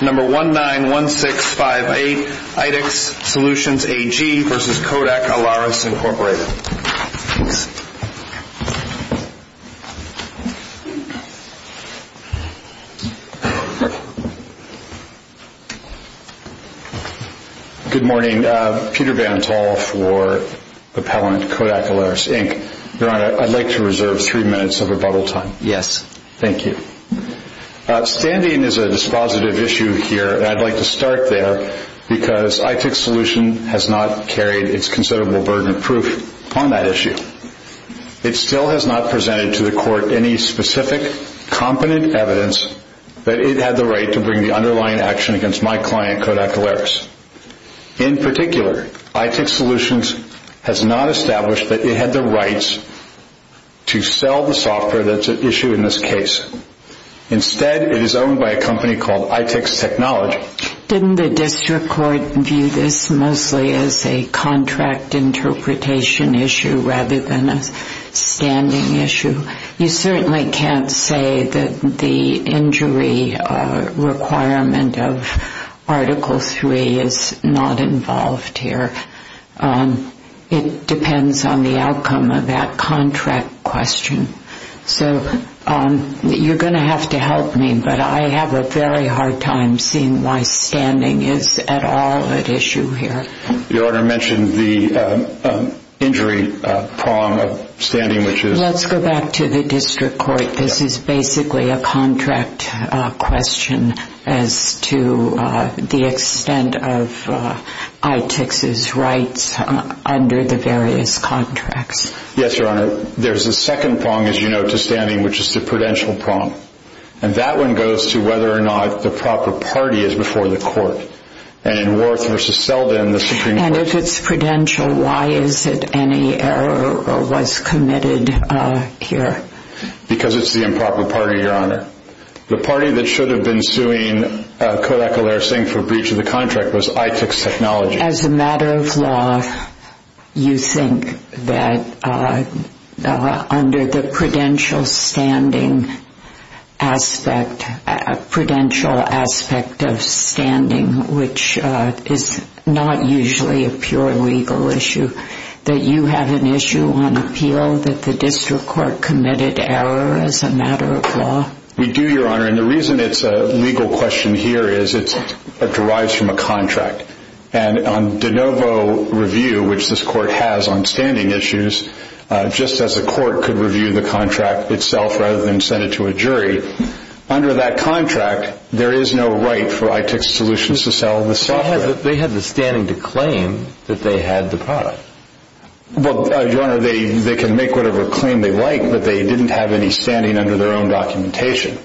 Number 191658, ItyX Solutions AG v. Kodak Alaris, Inc. Good morning, Peter VanTol for the pellant Kodak Alaris, Inc. Your Honor, I'd like to reserve three minutes of rebuttal time. Yes. Thank you. Standing is a dispositive issue here, and I'd like to start there because ItyX Solutions has not carried its considerable burden of proof on that issue. It still has not presented to the Court any specific competent evidence that it had the right to bring the underlying action against my client, Kodak Alaris. In particular, ItyX Solutions has not established that it had the rights to sell the software that's at issue in this case. Instead, it is owned by a company called ItyX Technology. Didn't the district court view this mostly as a contract interpretation issue rather than a standing issue? You certainly can't say that the injury requirement of Article 3 is not involved here. It depends on the outcome of that contract question. So you're going to have to help me, but I have a very hard time seeing why standing is at all at issue here. Your Honor mentioned the injury problem of standing, which is? Let's go back to the district court. This is basically a contract question as to the extent of ItyX's rights under the various contracts. Yes, Your Honor. There's a second prong, as you know, to standing, which is the prudential prong. And that one goes to whether or not the proper party is before the court. And in Worth v. Selden, the Supreme Court... And if it's prudential, why is it any error was committed here? Because it's the improper party, Your Honor. The party that should have been suing Kodak-Elair-Singh for breach of the contract was ItyX Technology. As a matter of law, you think that under the prudential standing aspect, prudential aspect of standing, which is not usually a pure legal issue, that you have an issue on appeal that the district court committed error as a matter of law? We do, Your Honor. And the reason it's a legal question here is it derives from a contract. And on de novo review, which this court has on standing issues, just as a court could review the contract itself rather than send it to a jury, under that contract, there is no right for ItyX Solutions to sell the software. But they had the standing to claim that they had the product. Well, Your Honor, they can make whatever claim they like, but they didn't have any standing under their own documentation.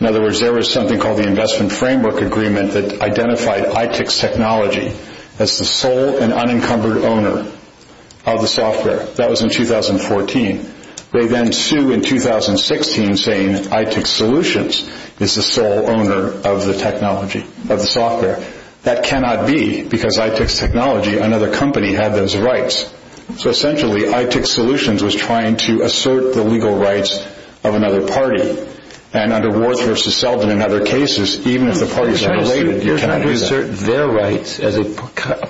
In other words, there was something called the Investment Framework Agreement that identified ItyX Technology as the sole and unencumbered owner of the software. That was in 2014. They then sued in 2016 saying ItyX Solutions is the sole owner of the technology, of the software. That cannot be because ItyX Technology, another company, had those rights. So essentially, ItyX Solutions was trying to assert the legal rights of another party. And under Ward v. Selden and other cases, even if the parties are related, you cannot do that. They're trying to assert their rights as a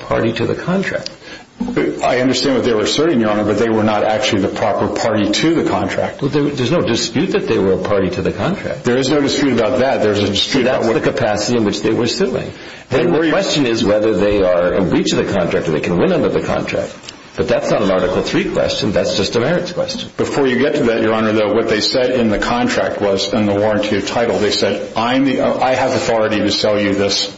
party to the contract. I understand what they were asserting, Your Honor, but they were not actually the proper party to the contract. There's no dispute that they were a party to the contract. There is no dispute about that. So that was the capacity in which they were suing. The question is whether they are a breach of the contract or they can win under the contract. But that's not an Article III question. That's just a merits question. Before you get to that, Your Honor, though, what they said in the contract was, in the warranty of title, they said, I have authority to sell you this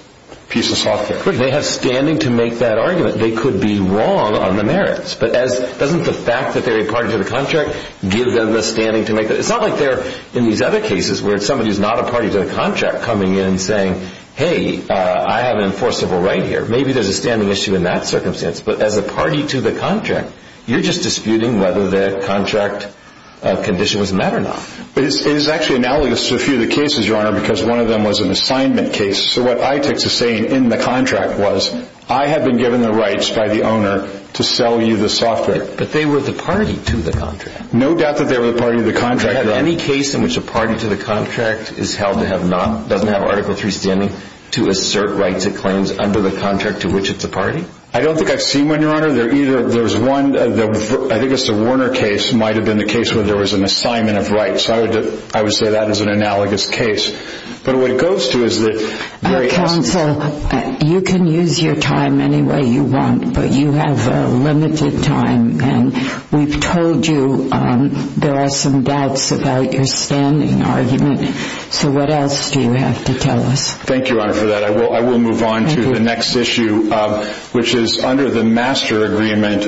piece of software. But they have standing to make that argument. They could be wrong on the merits. But doesn't the fact that they're a party to the contract give them the standing to make that? It's not like they're in these other cases where somebody is not a party to the contract coming in saying, hey, I have an enforceable right here. Maybe there's a standing issue in that circumstance. But as a party to the contract, you're just disputing whether the contract condition was met or not. It is actually analogous to a few of the cases, Your Honor, because one of them was an assignment case. So what ITICS is saying in the contract was, I have been given the rights by the owner to sell you the software. But they were the party to the contract. No doubt that they were the party to the contract. Do you have any case in which a party to the contract is held to have not, doesn't have Article III standing, to assert rights it claims under the contract to which it's a party? I don't think I've seen one, Your Honor. There's one, I think it's the Warner case, might have been the case where there was an assignment of rights. I would say that is an analogous case. But what it goes to is that there is. Counsel, you can use your time any way you want, but you have limited time. And we've told you there are some doubts about your standing argument. So what else do you have to tell us? Thank you, Your Honor, for that. I will move on to the next issue, which is under the master agreement,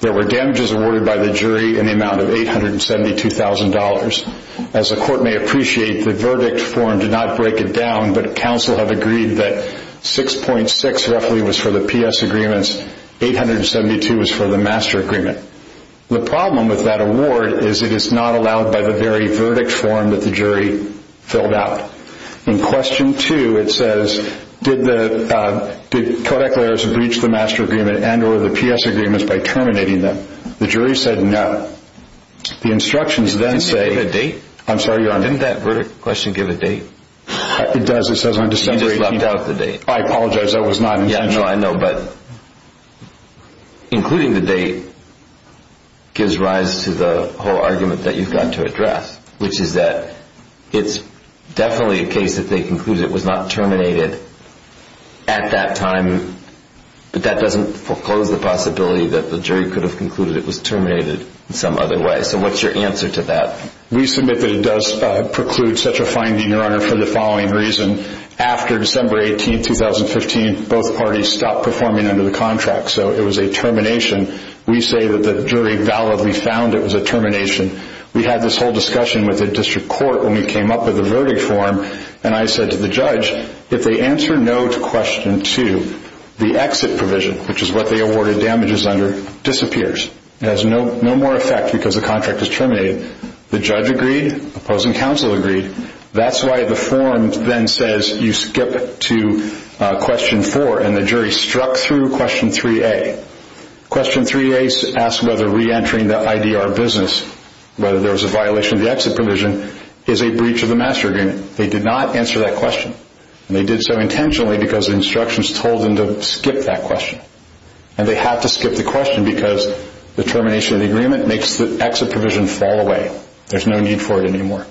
there were damages awarded by the jury in the amount of $872,000. As the court may appreciate, the verdict form did not break it down, but counsel have agreed that 6.6 roughly was for the PS agreements, 872 was for the master agreement. The problem with that award is it is not allowed by the very verdict form that the jury filled out. In question two, it says, did the codec lawyers breach the master agreement and or the PS agreements by terminating them? The jury said no. The instructions then say. Didn't they give a date? Didn't that verdict question give a date? It does. It says on December 18th. You just left out the date. I apologize. That was not intentional. No, I know, but including the date gives rise to the whole argument that you've got to address, which is that it's definitely a case that they concluded it was not terminated at that time, but that doesn't foreclose the possibility that the jury could have concluded it was terminated in some other way. So what's your answer to that? We submit that it does preclude such a finding, Your Honor, for the following reason. After December 18th, 2015, both parties stopped performing under the contract, so it was a termination. We say that the jury validly found it was a termination. We had this whole discussion with the district court when we came up with the verdict form, and I said to the judge, if they answer no to question two, the exit provision, which is what they awarded damages under, disappears. It has no more effect because the contract is terminated. The judge agreed. Opposing counsel agreed. That's why the form then says you skip to question four, and the jury struck through question 3A. Question 3A asks whether reentering the IDR business, whether there was a violation of the exit provision, is a breach of the master agreement. They did not answer that question, and they did so intentionally because instructions told them to skip that question. And they had to skip the question because the termination of the agreement makes the exit provision fall away. There's no need for it anymore.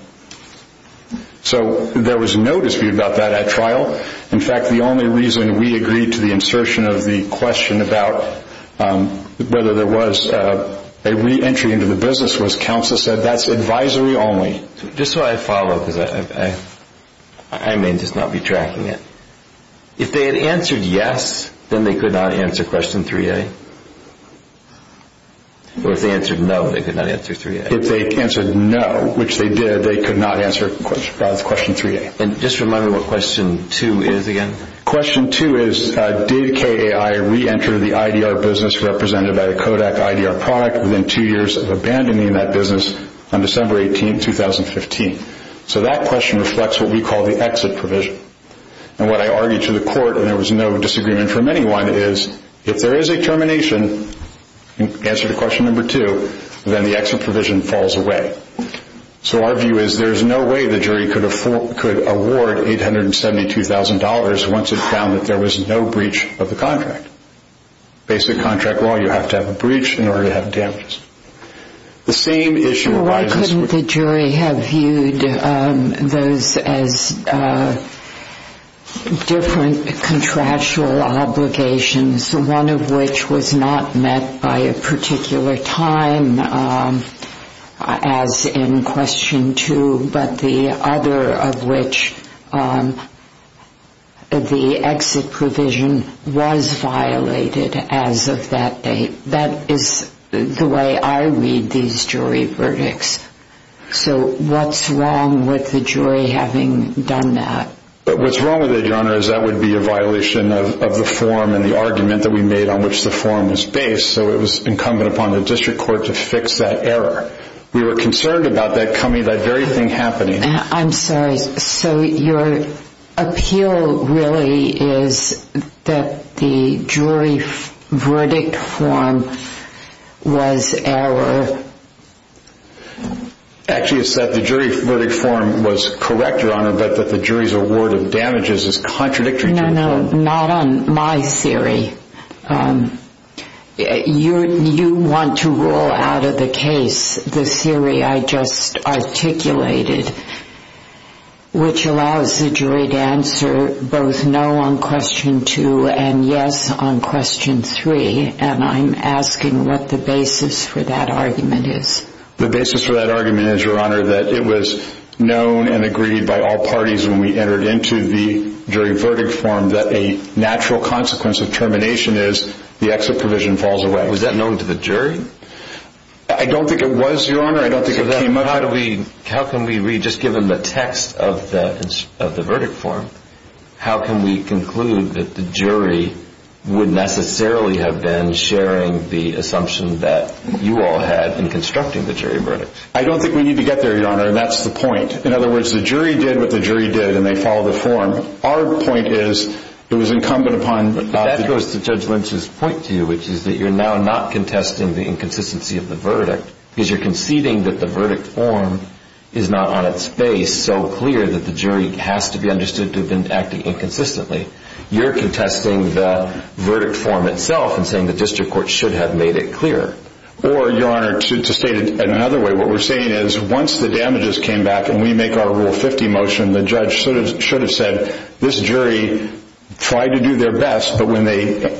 So there was no dispute about that at trial. In fact, the only reason we agreed to the insertion of the question about whether there was a reentry into the business was counsel said that's advisory only. Just so I follow, because I may just not be tracking it. If they had answered yes, then they could not answer question 3A. Or if they answered no, they could not answer 3A. If they answered no, which they did, they could not answer question 3A. And just remind me what question two is again. Question two is did KAI reenter the IDR business represented by the Kodak IDR product within two years of abandoning that business on December 18, 2015? So that question reflects what we call the exit provision. And what I argued to the court, and there was no disagreement from anyone, is if there is a termination, answer to question number two, then the exit provision falls away. So our view is there's no way the jury could award $872,000 once it found that there was no breach of the contract. Basic contract law, you have to have a breach in order to have damages. The same issue arises. Why couldn't the jury have viewed those as different contractual obligations, one of which was not met by a particular time as in question two, but the other of which the exit provision was violated as of that date? That is the way I read these jury verdicts. So what's wrong with the jury having done that? What's wrong with it, Your Honor, is that would be a violation of the form and the argument that we made on which the form was based. So it was incumbent upon the district court to fix that error. We were concerned about that very thing happening. I'm sorry. So your appeal really is that the jury verdict form was error? Actually, it's that the jury verdict form was correct, Your Honor, but that the jury's award of damages is contradictory to the form. No, no, not on my theory. You want to rule out of the case the theory I just articulated, which allows the jury to answer both no on question two and yes on question three, and I'm asking what the basis for that argument is. The basis for that argument is, Your Honor, that it was known and agreed by all parties when we entered into the jury verdict form that a natural consequence of termination is the exit provision falls away. Was that known to the jury? I don't think it was, Your Honor. How can we read, just given the text of the verdict form, how can we conclude that the jury would necessarily have been sharing the assumption that you all had in constructing the jury verdict? I don't think we need to get there, Your Honor, and that's the point. In other words, the jury did what the jury did, and they followed the form. Our point is it was incumbent upon the jury. But that goes to Judge Lynch's point to you, which is that you're now not contesting the inconsistency of the verdict because you're conceding that the verdict form is not on its face so clear that the jury has to be understood to have been acting inconsistently. You're contesting the verdict form itself and saying the district court should have made it clear. Or, Your Honor, to state it in another way, what we're saying is once the damages came back and we make our Rule 50 motion, the judge should have said this jury tried to do their best, but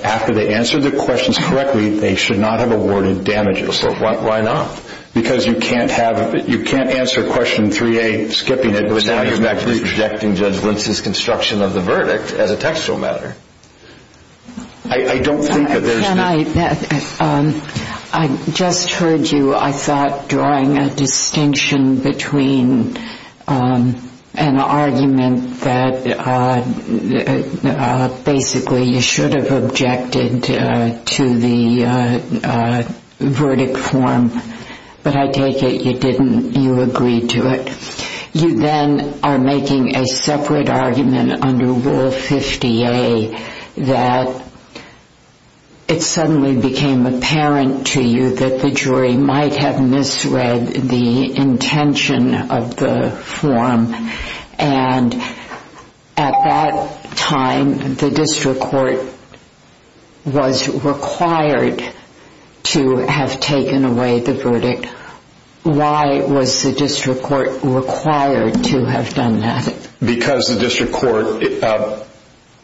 after they answered the questions correctly, they should not have awarded damages. So why not? Because you can't answer Question 3A skipping it, but now you're objecting Judge Lynch's construction of the verdict as a textual matter. I don't think that there's a difference. I just heard you, I thought, drawing a distinction between an argument that basically you should have objected to the verdict form, but I take it you didn't, you agreed to it. You then are making a separate argument under Rule 50A that it suddenly became apparent to you that the jury might have misread the intention of the form. And at that time, the district court was required to have taken away the verdict. Why was the district court required to have done that? Because the district court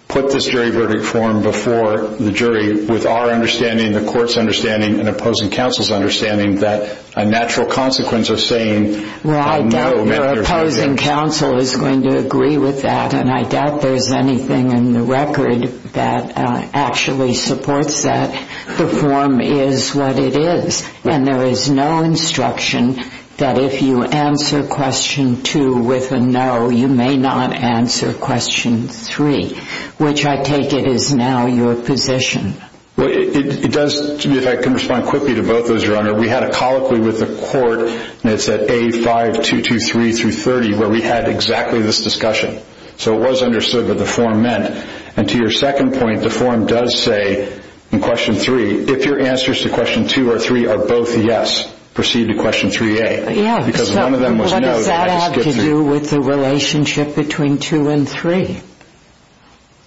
put this jury verdict form before the jury with our understanding, the court's understanding, and opposing counsel's understanding that a natural consequence of saying no may not have been there. Well, I doubt your opposing counsel is going to agree with that, and I doubt there's anything in the record that actually supports that the form is what it is. And there is no instruction that if you answer Question 2 with a no, you may not answer Question 3, which I take it is now your position. Well, it does, if I can respond quickly to both of those, Your Honor, we had a colloquy with the court, and it's at A5223-30, where we had exactly this discussion. So it was understood what the form meant. And to your second point, the form does say in Question 3, if your answers to Question 2 or 3 are both yes, proceed to Question 3A. Yeah, so what does that have to do with the relationship between 2 and 3?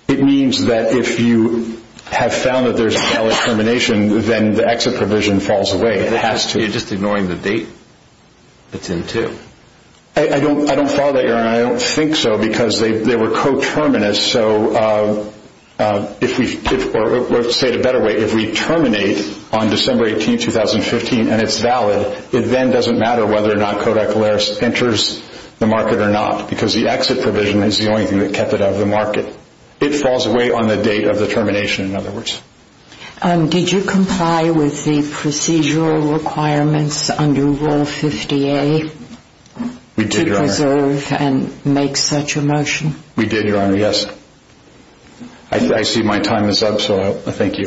It means that if you have found that there's a valid termination, then the exit provision falls away. You're just ignoring the date? It's in 2. I don't follow that, Your Honor. I don't think so, because they were coterminous. So if we say it a better way, if we terminate on December 18, 2015, and it's valid, it then doesn't matter whether or not Codex Valeris enters the market or not, because the exit provision is the only thing that kept it out of the market. It falls away on the date of the termination, in other words. Did you comply with the procedural requirements under Rule 50A? We did, Your Honor. To preserve and make such a motion? We did, Your Honor, yes. I see my time is up, so I thank you.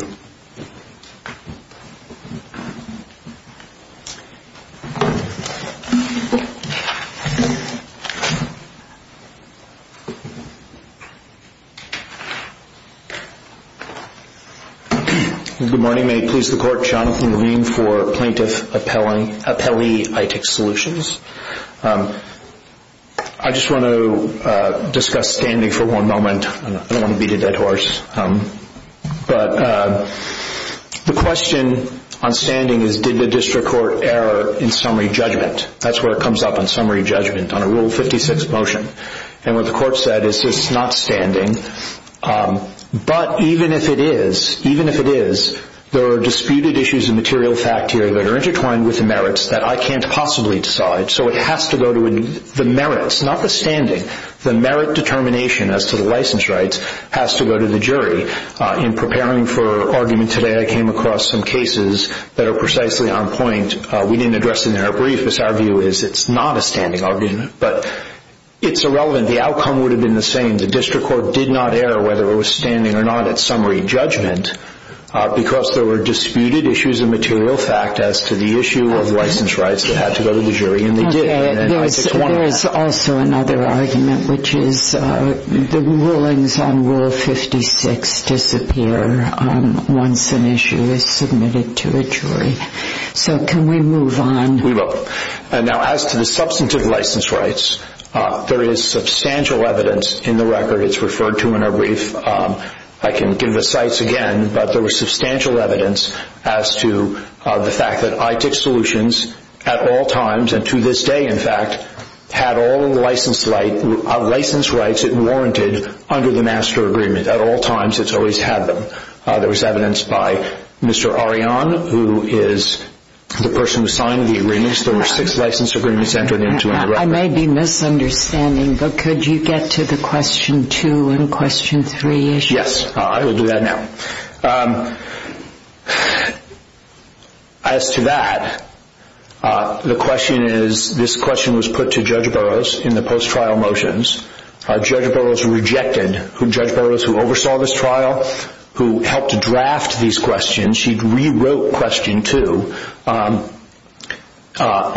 Good morning. May it please the Court, Jonathan Green for Plaintiff Appellee ITIC Solutions. I just want to discuss standing for one moment. I don't want to beat a dead horse, but the question on standing is, did the district court err in summary judgment? That's where it comes up, on summary judgment, on a Rule 56 motion. And what the Court said is, it's not standing, but even if it is, there are disputed issues of material fact here that are intertwined with the merits that I can't possibly decide, so it has to go to the merits, not the standing. The merit determination as to the license rights has to go to the jury. In preparing for argument today, I came across some cases that are precisely on point. We didn't address it in our brief, because our view is it's not a standing argument. But it's irrelevant. The outcome would have been the same. The district court did not err whether it was standing or not at summary judgment, because there were disputed issues of material fact as to the issue of license rights that had to go to the jury, and they did. There is also another argument, which is the rulings on Rule 56 disappear once an issue is submitted to a jury. So can we move on? We will. Now, as to the substantive license rights, there is substantial evidence in the record. It's referred to in our brief. I can give the cites again, but there was substantial evidence as to the fact that ITICS Solutions at all times, and to this day, in fact, had all license rights warranted under the master agreement. At all times, it's always had them. There was evidence by Mr. Arion, who is the person who signed the agreements. There were six license agreements entered into in the record. I may be misunderstanding, but could you get to the question two and question three issues? Yes, I will do that now. As to that, the question is, this question was put to Judge Burroughs in the post-trial motions. Judge Burroughs rejected. Judge Burroughs, who oversaw this trial, who helped to draft these questions, she rewrote question two on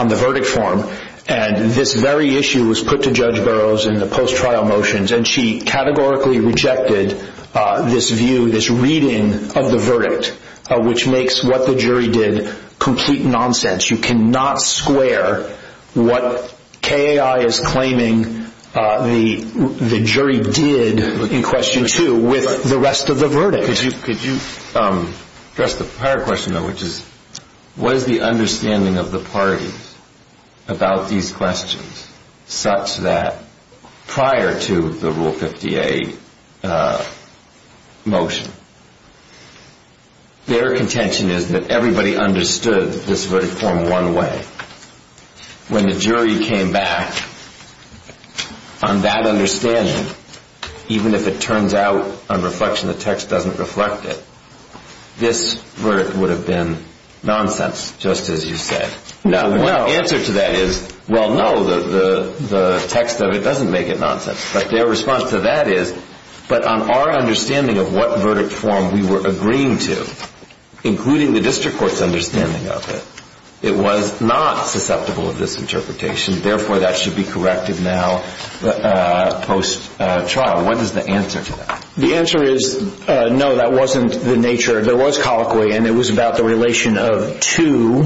the verdict form, and this very issue was put to Judge Burroughs in the post-trial motions, and she categorically rejected this view, this reading of the verdict, which makes what the jury did complete nonsense. You cannot square what KAI is claiming the jury did in question two with the rest of the verdict. Could you address the prior question, though, which is, what is the understanding of the parties about these questions such that prior to the Rule 58 motion, their contention is that everybody understood this verdict form one way. When the jury came back on that understanding, even if it turns out on reflection the text doesn't reflect it, this verdict would have been nonsense, just as you said. The answer to that is, well, no, the text of it doesn't make it nonsense. But their response to that is, but on our understanding of what verdict form we were agreeing to, including the district court's understanding of it, it was not susceptible of this interpretation. Therefore, that should be corrected now post-trial. What is the answer to that? The answer is, no, that wasn't the nature. There was colloquy, and it was about the relation of two,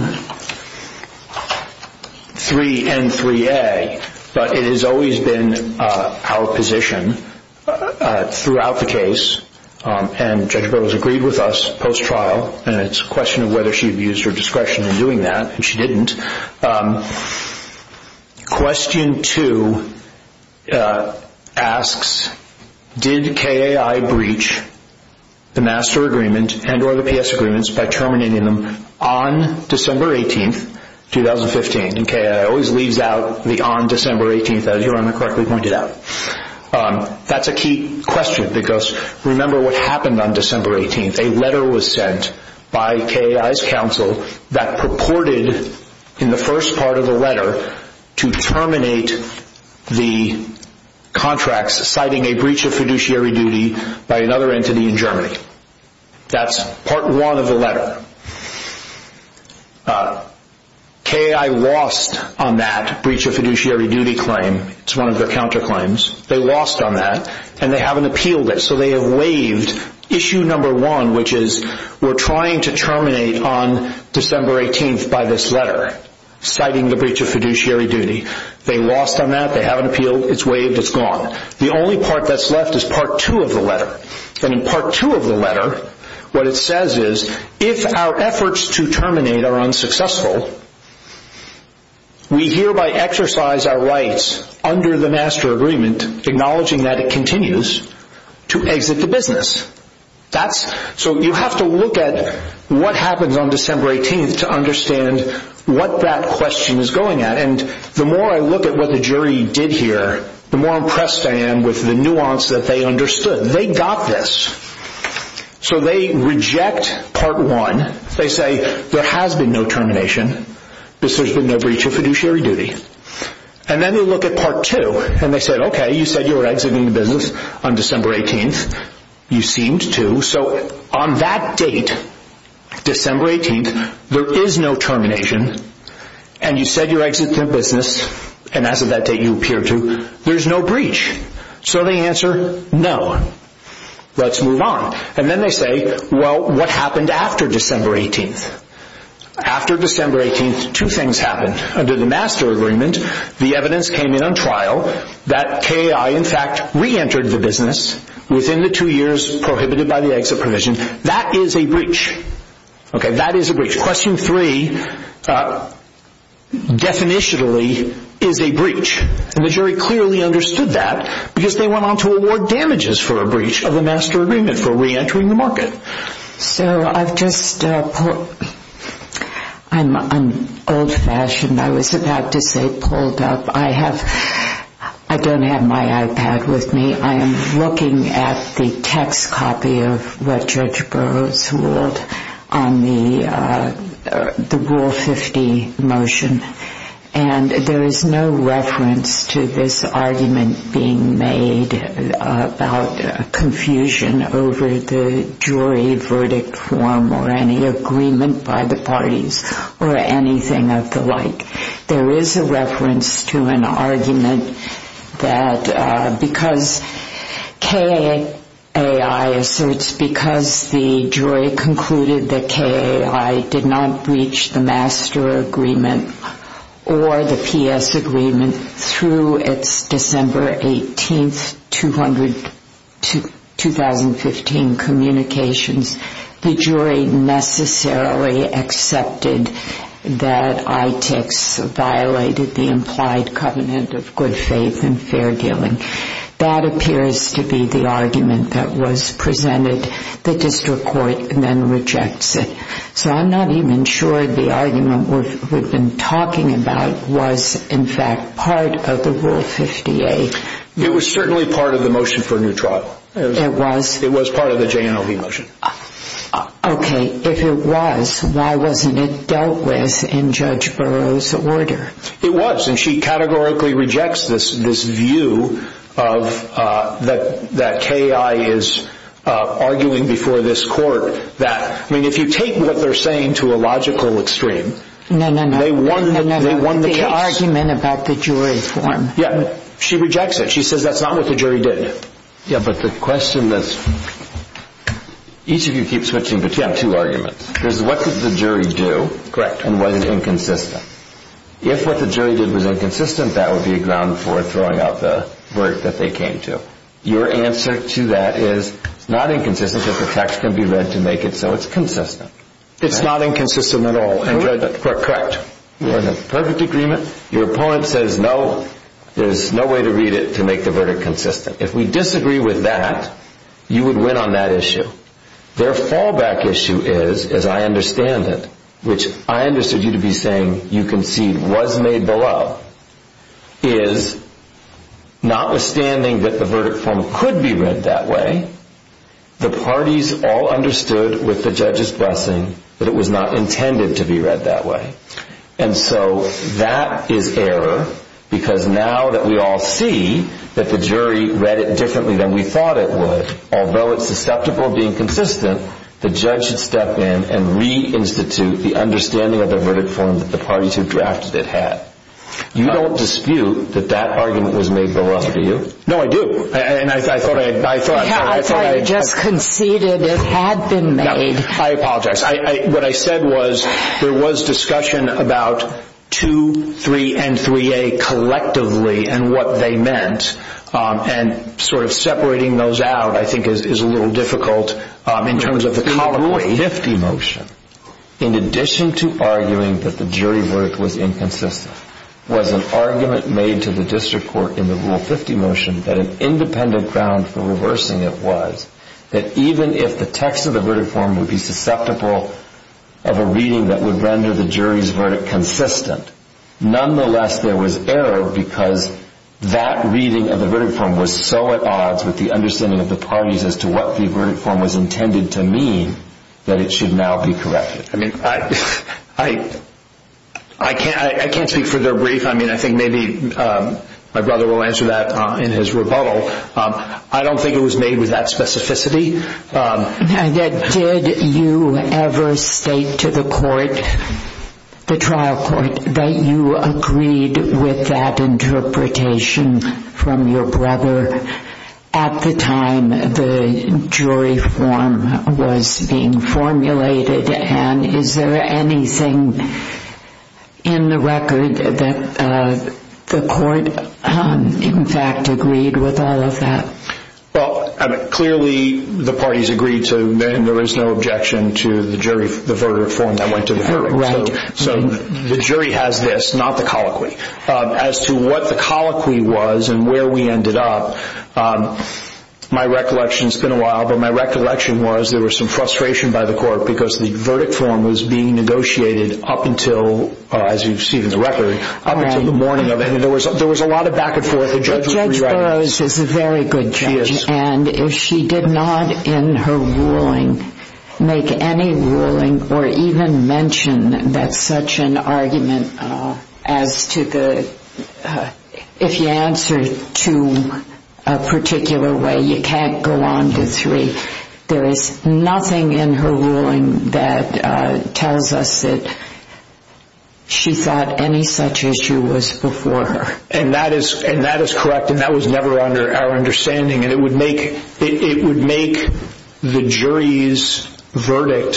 three, and three A, but it has always been our position throughout the case, and Judge Burroughs agreed with us post-trial, and it's a question of whether she abused her discretion in doing that, and she didn't. Question two asks, did KAI breach the master agreement and or the PS agreements by terminating them on December 18, 2015? And KAI always leaves out the on December 18, as Your Honor correctly pointed out. That's a key question, because remember what happened on December 18. A letter was sent by KAI's counsel that purported, in the first part of the letter, to terminate the contracts citing a breach of fiduciary duty by another entity in Germany. That's part one of the letter. KAI lost on that breach of fiduciary duty claim. It's one of their counterclaims. They lost on that, and they haven't appealed it, so they have waived issue number one, which is we're trying to terminate on December 18 by this letter citing the breach of fiduciary duty. They lost on that. They haven't appealed. It's waived. It's gone. The only part that's left is part two of the letter, and in part two of the letter, what it says is, if our efforts to terminate are unsuccessful, we hereby exercise our rights under the master agreement, acknowledging that it continues, to exit the business. So you have to look at what happens on December 18 to understand what that question is going at, and the more I look at what the jury did here, the more impressed I am with the nuance that they understood. They got this. So they reject part one. They say there has been no termination because there's been no breach of fiduciary duty, and then they look at part two, and they said, okay, you said you were exiting the business on December 18. You seemed to, so on that date, December 18, there is no termination, and you said you're exiting the business, and as of that date you appear to, there's no breach. So they answer, no. Let's move on, and then they say, well, what happened after December 18? After December 18, two things happened. Under the master agreement, the evidence came in on trial, that KAI, in fact, reentered the business within the two years prohibited by the exit provision. That is a breach. Okay, that is a breach. Question three, definitionally, is a breach, and the jury clearly understood that because they went on to award damages for a breach of the master agreement for reentering the market. So I've just, I'm old-fashioned. I was about to say pulled up. I don't have my iPad with me. I am looking at the text copy of what Judge Burroughs ruled on the Rule 50 motion, and there is no reference to this argument being made about confusion over the jury verdict form or any agreement by the parties or anything of the like. There is a reference to an argument that because KAI asserts because the jury concluded that KAI did not breach the master agreement or the PS agreement through its December 18, 2015, communications, the jury necessarily accepted that ITICS violated the implied covenant of good faith and fair dealing. That appears to be the argument that was presented. The district court then rejects it. So I'm not even sure the argument we've been talking about was, in fact, part of the Rule 50A. It was certainly part of the motion for a new trial. It was? It was part of the JNLB motion. Okay. If it was, why wasn't it dealt with in Judge Burroughs' order? It was, and she categorically rejects this view that KAI is arguing before this court that, I mean, if you take what they're saying to a logical extreme, they won the case. No, no, no, the argument about the jury form. She rejects it. She says that's not what the jury did. Yeah, but the question is, each of you keeps switching between two arguments. There's what did the jury do and what is inconsistent. If what the jury did was inconsistent, that would be a ground for throwing out the verdict that they came to. Your answer to that is it's not inconsistent because the text can be read to make it so it's consistent. It's not inconsistent at all. Correct. We're in a perfect agreement. Your opponent says no, there's no way to read it to make the verdict consistent. If we disagree with that, you would win on that issue. Their fallback issue is, as I understand it, which I understood you to be saying you concede was made below, is notwithstanding that the verdict form could be read that way, the parties all understood with the judge's blessing that it was not intended to be read that way. And so that is error because now that we all see that the jury read it differently than we thought it would, although it's susceptible of being consistent, the judge should step in and re-institute the understanding of the verdict form that the parties who drafted it had. You don't dispute that that argument was made below, do you? No, I do. I thought I had just conceded it had been made. I apologize. What I said was there was discussion about 2, 3, and 3A collectively and what they meant. And sort of separating those out I think is a little difficult in terms of the colloquy. The Rule 50 motion, in addition to arguing that the jury verdict was inconsistent, was an argument made to the district court in the Rule 50 motion that an independent ground for reversing it was that even if the text of the verdict form would be susceptible of a reading that would render the jury's verdict consistent, nonetheless there was error because that reading of the verdict form was so at odds with the understanding of the parties as to what the verdict form was intended to mean that it should now be corrected. I mean, I can't speak for their brief. I mean, I think maybe my brother will answer that in his rebuttal. I don't think it was made with that specificity. Did you ever state to the court, the trial court, that you agreed with that interpretation from your brother at the time the jury form was being formulated? And is there anything in the record that the court, in fact, agreed with all of that? Well, clearly the parties agreed to and there is no objection to the jury, the verdict form that went to the jury. So the jury has this, not the colloquy. As to what the colloquy was and where we ended up, my recollection, it's been a while, but my recollection was there was some frustration by the court because the verdict form was being negotiated up until, as you've seen in the record, up until the morning of it. And there was a lot of back and forth. Judge Burroughs is a very good judge. She is. And if she did not, in her ruling, make any ruling or even mention that such an argument as to the, if you answer two a particular way, you can't go on to three, there is nothing in her ruling that tells us that she thought any such issue was before her. And that is correct and that was never our understanding. And it would make the jury's verdict,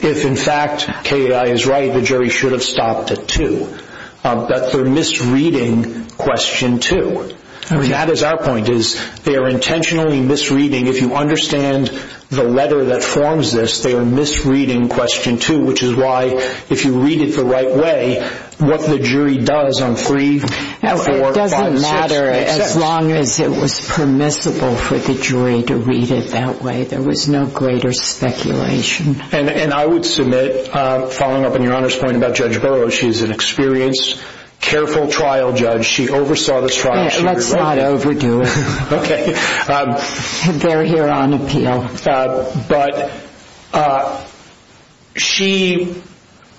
if in fact Kay and I is right, the jury should have stopped at two. But they're misreading question two. I mean, that is our point is they are intentionally misreading. If you understand the letter that forms this, they are misreading question two, which is why if you read it the right way, what the jury does on three, four, five, six. It doesn't matter as long as it was permissible for the jury to read it that way. There was no greater speculation. And I would submit, following up on your Honor's point about Judge Burroughs, she is an experienced, careful trial judge. She oversaw this trial. Let's not overdo it. Okay. They're here on appeal. But she,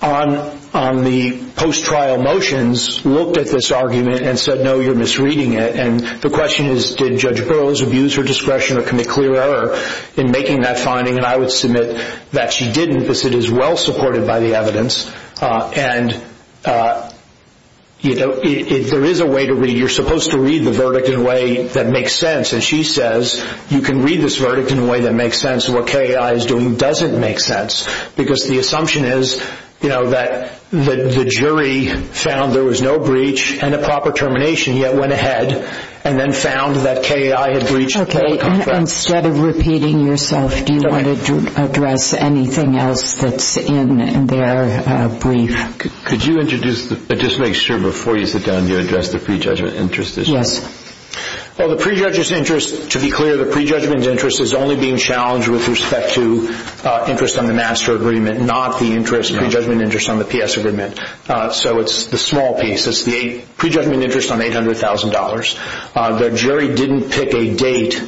on the post-trial motions, looked at this argument and said, no, you're misreading it. And the question is, did Judge Burroughs abuse her discretion or commit clear error in making that finding? And I would submit that she didn't because it is well supported by the evidence. And, you know, there is a way to read. You're supposed to read the verdict in a way that makes sense. And she says you can read this verdict in a way that makes sense. What KAI is doing doesn't make sense because the assumption is, you know, that the jury found there was no breach and a proper termination, yet went ahead and then found that KAI had breached. Okay. And instead of repeating yourself, do you want to address anything else that's in their brief? Could you introduce, just to make sure before you sit down, you address the pre-judgment interest issue? Yes. Well, the pre-judge's interest, to be clear, the pre-judgment interest is only being challenged with respect to interest on the master agreement, not the pre-judgment interest on the PS agreement. So it's the small piece. It's the pre-judgment interest on $800,000. The jury didn't pick a date,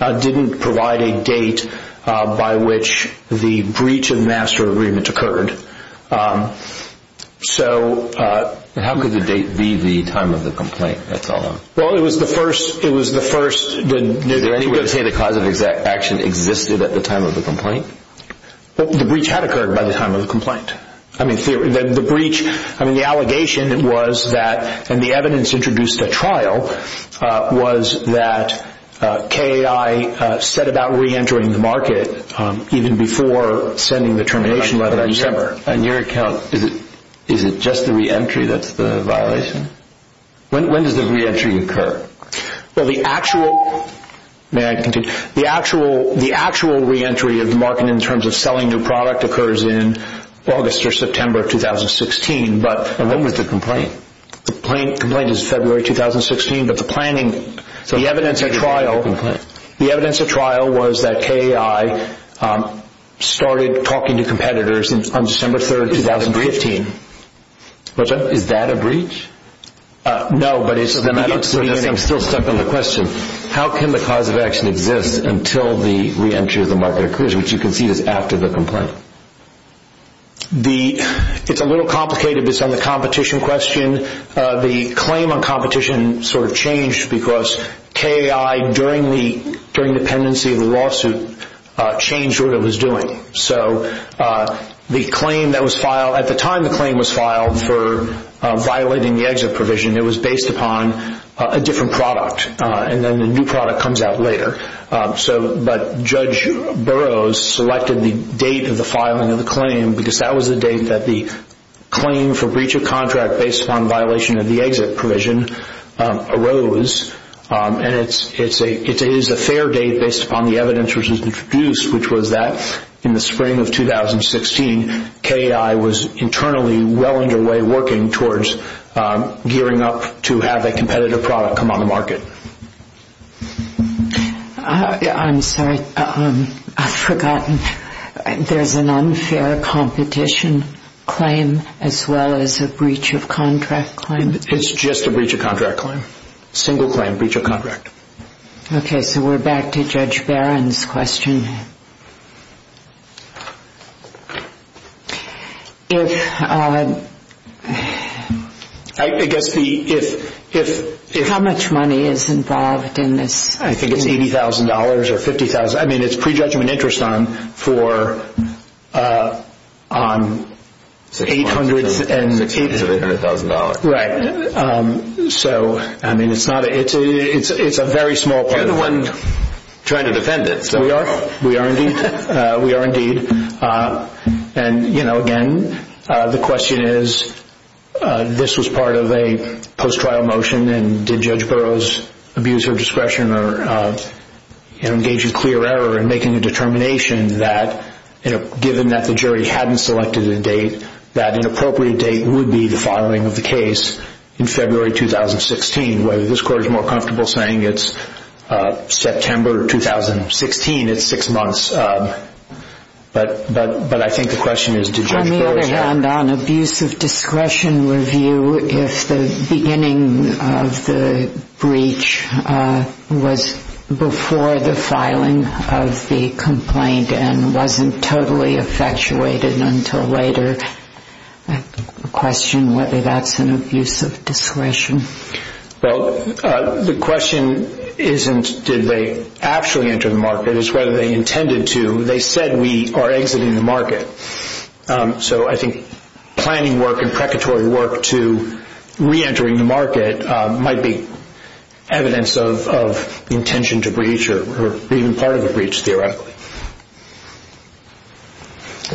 didn't provide a date by which the breach of the master agreement occurred. So how could the date be the time of the complaint? Well, it was the first. Did anybody say the cause of action existed at the time of the complaint? The breach had occurred by the time of the complaint. I mean, the allegation was that, and the evidence introduced at trial, was that KAI set about re-entering the market even before sending the termination letter in December. On your account, is it just the re-entry that's the violation? When does the re-entry occur? Well, the actual re-entry of the market in terms of selling new product occurs in August or September 2016. And when was the complaint? The complaint is February 2016, but the evidence at trial was that KAI started talking to competitors on December 3, 2015. Is that a breach? No, but it's the beginning. I'm still stuck on the question. How can the cause of action exist until the re-entry of the market occurs, which you concede is after the complaint? It's a little complicated based on the competition question. The claim on competition sort of changed because KAI, during the pendency of the lawsuit, changed what it was doing. At the time the claim was filed for violating the exit provision, it was based upon a different product. And then the new product comes out later. But Judge Burroughs selected the date of the filing of the claim because that was the date that the claim for breach of contract based upon violation of the exit provision arose. And it is a fair date based upon the evidence which was introduced, which was that in the spring of 2016, KAI was internally well underway working towards gearing up to have a competitive product come on the market. I'm sorry, I've forgotten. There's an unfair competition claim as well as a breach of contract claim. It's just a breach of contract claim. It's a single claim breach of contract. Okay, so we're back to Judge Barron's question. How much money is involved in this? I think it's $80,000 or $50,000. I mean, it's prejudgment interest on $800,000. Right. So, I mean, it's a very small part of it. You're the one trying to defend it. We are. We are indeed. We are indeed. And, you know, again, the question is, this was part of a post-trial motion, and did Judge Burroughs abuse her discretion or engage in clear error in making a determination that, given that the jury hadn't selected a date, that an appropriate date would be the filing of the case in February 2016, whether this court is more comfortable saying it's September 2016, it's six months. But I think the question is, did Judge Burroughs have? I'm not sure on abuse of discretion review if the beginning of the breach was before the filing of the complaint and wasn't totally effectuated until later. I question whether that's an abuse of discretion. Well, the question isn't did they actually enter the market. It's whether they intended to. They said we are exiting the market. So I think planning work and precatory work to reentering the market might be evidence of the intention to breach or even part of a breach theoretically.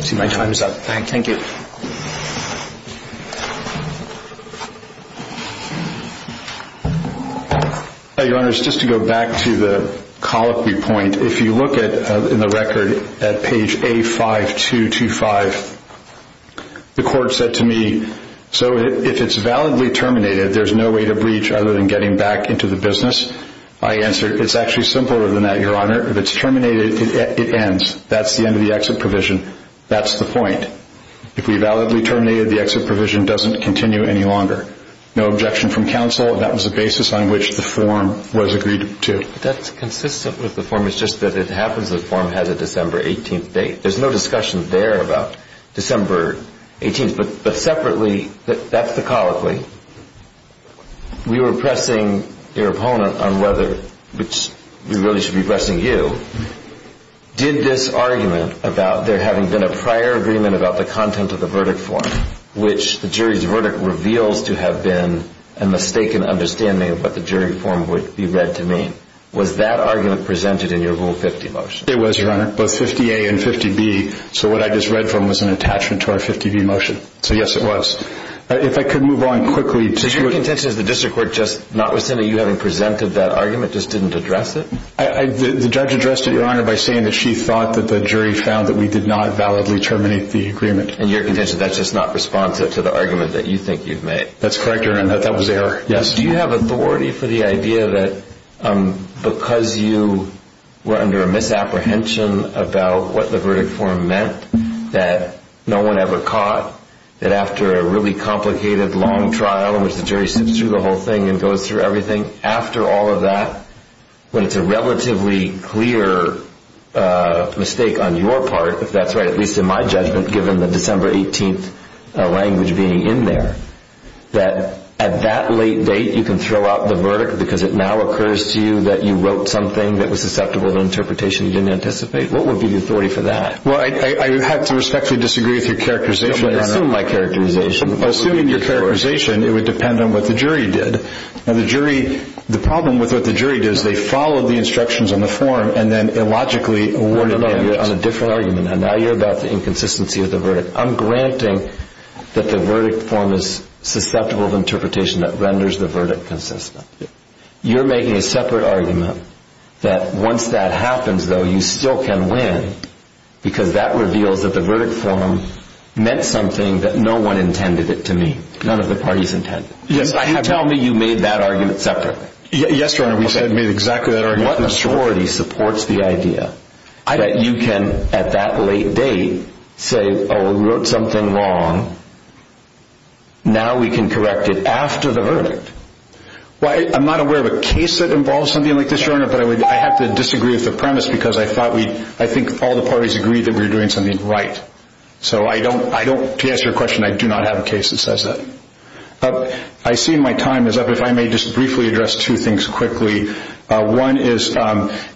I see my time is up. Thank you. Your Honor, just to go back to the colloquy point, if you look in the record at page A5225, the court said to me, so if it's validly terminated, there's no way to breach other than getting back into the business. My answer is it's actually simpler than that, Your Honor. If it's terminated, it ends. That's the end of the exit provision. That's the point. If we validly terminated, the exit provision doesn't continue any longer. No objection from counsel. That was the basis on which the form was agreed to. That's consistent with the form. It's just that it happens the form has a December 18th date. There's no discussion there about December 18th. But separately, that's the colloquy. We were pressing your opponent on whether, which we really should be pressing you, did this argument about there having been a prior agreement about the content of the verdict form, which the jury's verdict reveals to have been a mistaken understanding of what the jury form would be read to mean, was that argument presented in your Rule 50 motion? It was, Your Honor, both 50A and 50B. So what I just read from was an attachment to our 50B motion. So, yes, it was. If I could move on quickly. Is your contention that the district court just not rescinding you having presented that argument, just didn't address it? The judge addressed it, Your Honor, by saying that she thought that the jury found that we did not validly terminate the agreement. In your contention, that's just not responsive to the argument that you think you've made. That's correct, Your Honor. That was error, yes. Do you have authority for the idea that because you were under a misapprehension about what the verdict form meant, that no one ever caught that after a really complicated, long trial in which the jury sits through the whole thing and goes through everything, after all of that, when it's a relatively clear mistake on your part, if that's right, at least in my judgment given the December 18th language being in there, that at that late date you can throw out the verdict because it now occurs to you that you wrote something that was susceptible to interpretation you didn't anticipate? What would be the authority for that? Well, I have to respectfully disagree with your characterization, Your Honor. Don't assume my characterization. Assuming your characterization, it would depend on what the jury did. Now, the problem with what the jury did is they followed the instructions on the form and then illogically awarded it. You're on a different argument now. Now you're about the inconsistency of the verdict. I'm granting that the verdict form is susceptible of interpretation that renders the verdict consistent. You're making a separate argument that once that happens, though, you still can win because that reveals that the verdict form meant something that no one intended it to mean. None of the parties intended it. Can you tell me you made that argument separately? Yes, Your Honor. We made exactly that argument separately. What sorority supports the idea that you can, at that late date, say, oh, we wrote something wrong. Now we can correct it after the verdict? Well, I'm not aware of a case that involves something like this, Your Honor, but I have to disagree with the premise because I think all the parties agreed that we were doing something right. So to answer your question, I do not have a case that says that. I see my time is up. If I may just briefly address two things quickly. One is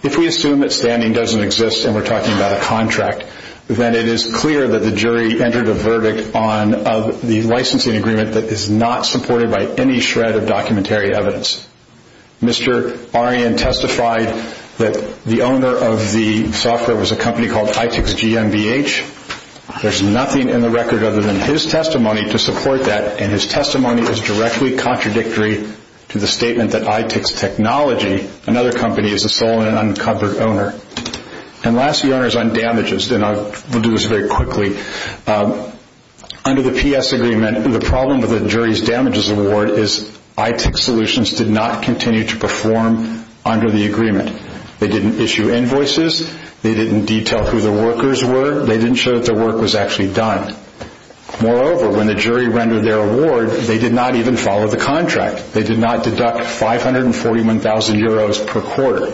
if we assume that standing doesn't exist and we're talking about a contract, then it is clear that the jury entered a verdict on the licensing agreement that is not supported by any shred of documentary evidence. Mr. Arian testified that the owner of the software was a company called ITXGMBH. There's nothing in the record other than his testimony to support that, and his testimony is directly contradictory to the statement that ITX Technology, another company, is the sole and uncovered owner. And lastly, Your Honor, is on damages, and I'll do this very quickly. Under the PS agreement, the problem with the jury's damages award is ITX Solutions did not continue to perform under the agreement. They didn't issue invoices. They didn't detail who the workers were. They didn't show that their work was actually done. Moreover, when the jury rendered their award, they did not even follow the contract. They did not deduct 541,000 euros per quarter.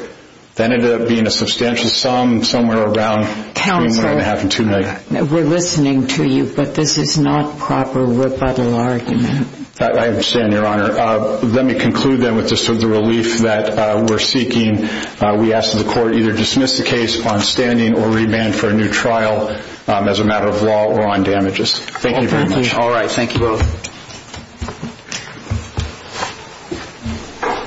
That ended up being a substantial sum somewhere around three and a half and two million. We're listening to you, but this is not proper rebuttal argument. I understand, Your Honor. Let me conclude, then, with the sort of relief that we're seeking. We ask that the court either dismiss the case on standing or remand for a new trial as a matter of law or on damages. Thank you very much. All right. Thank you both.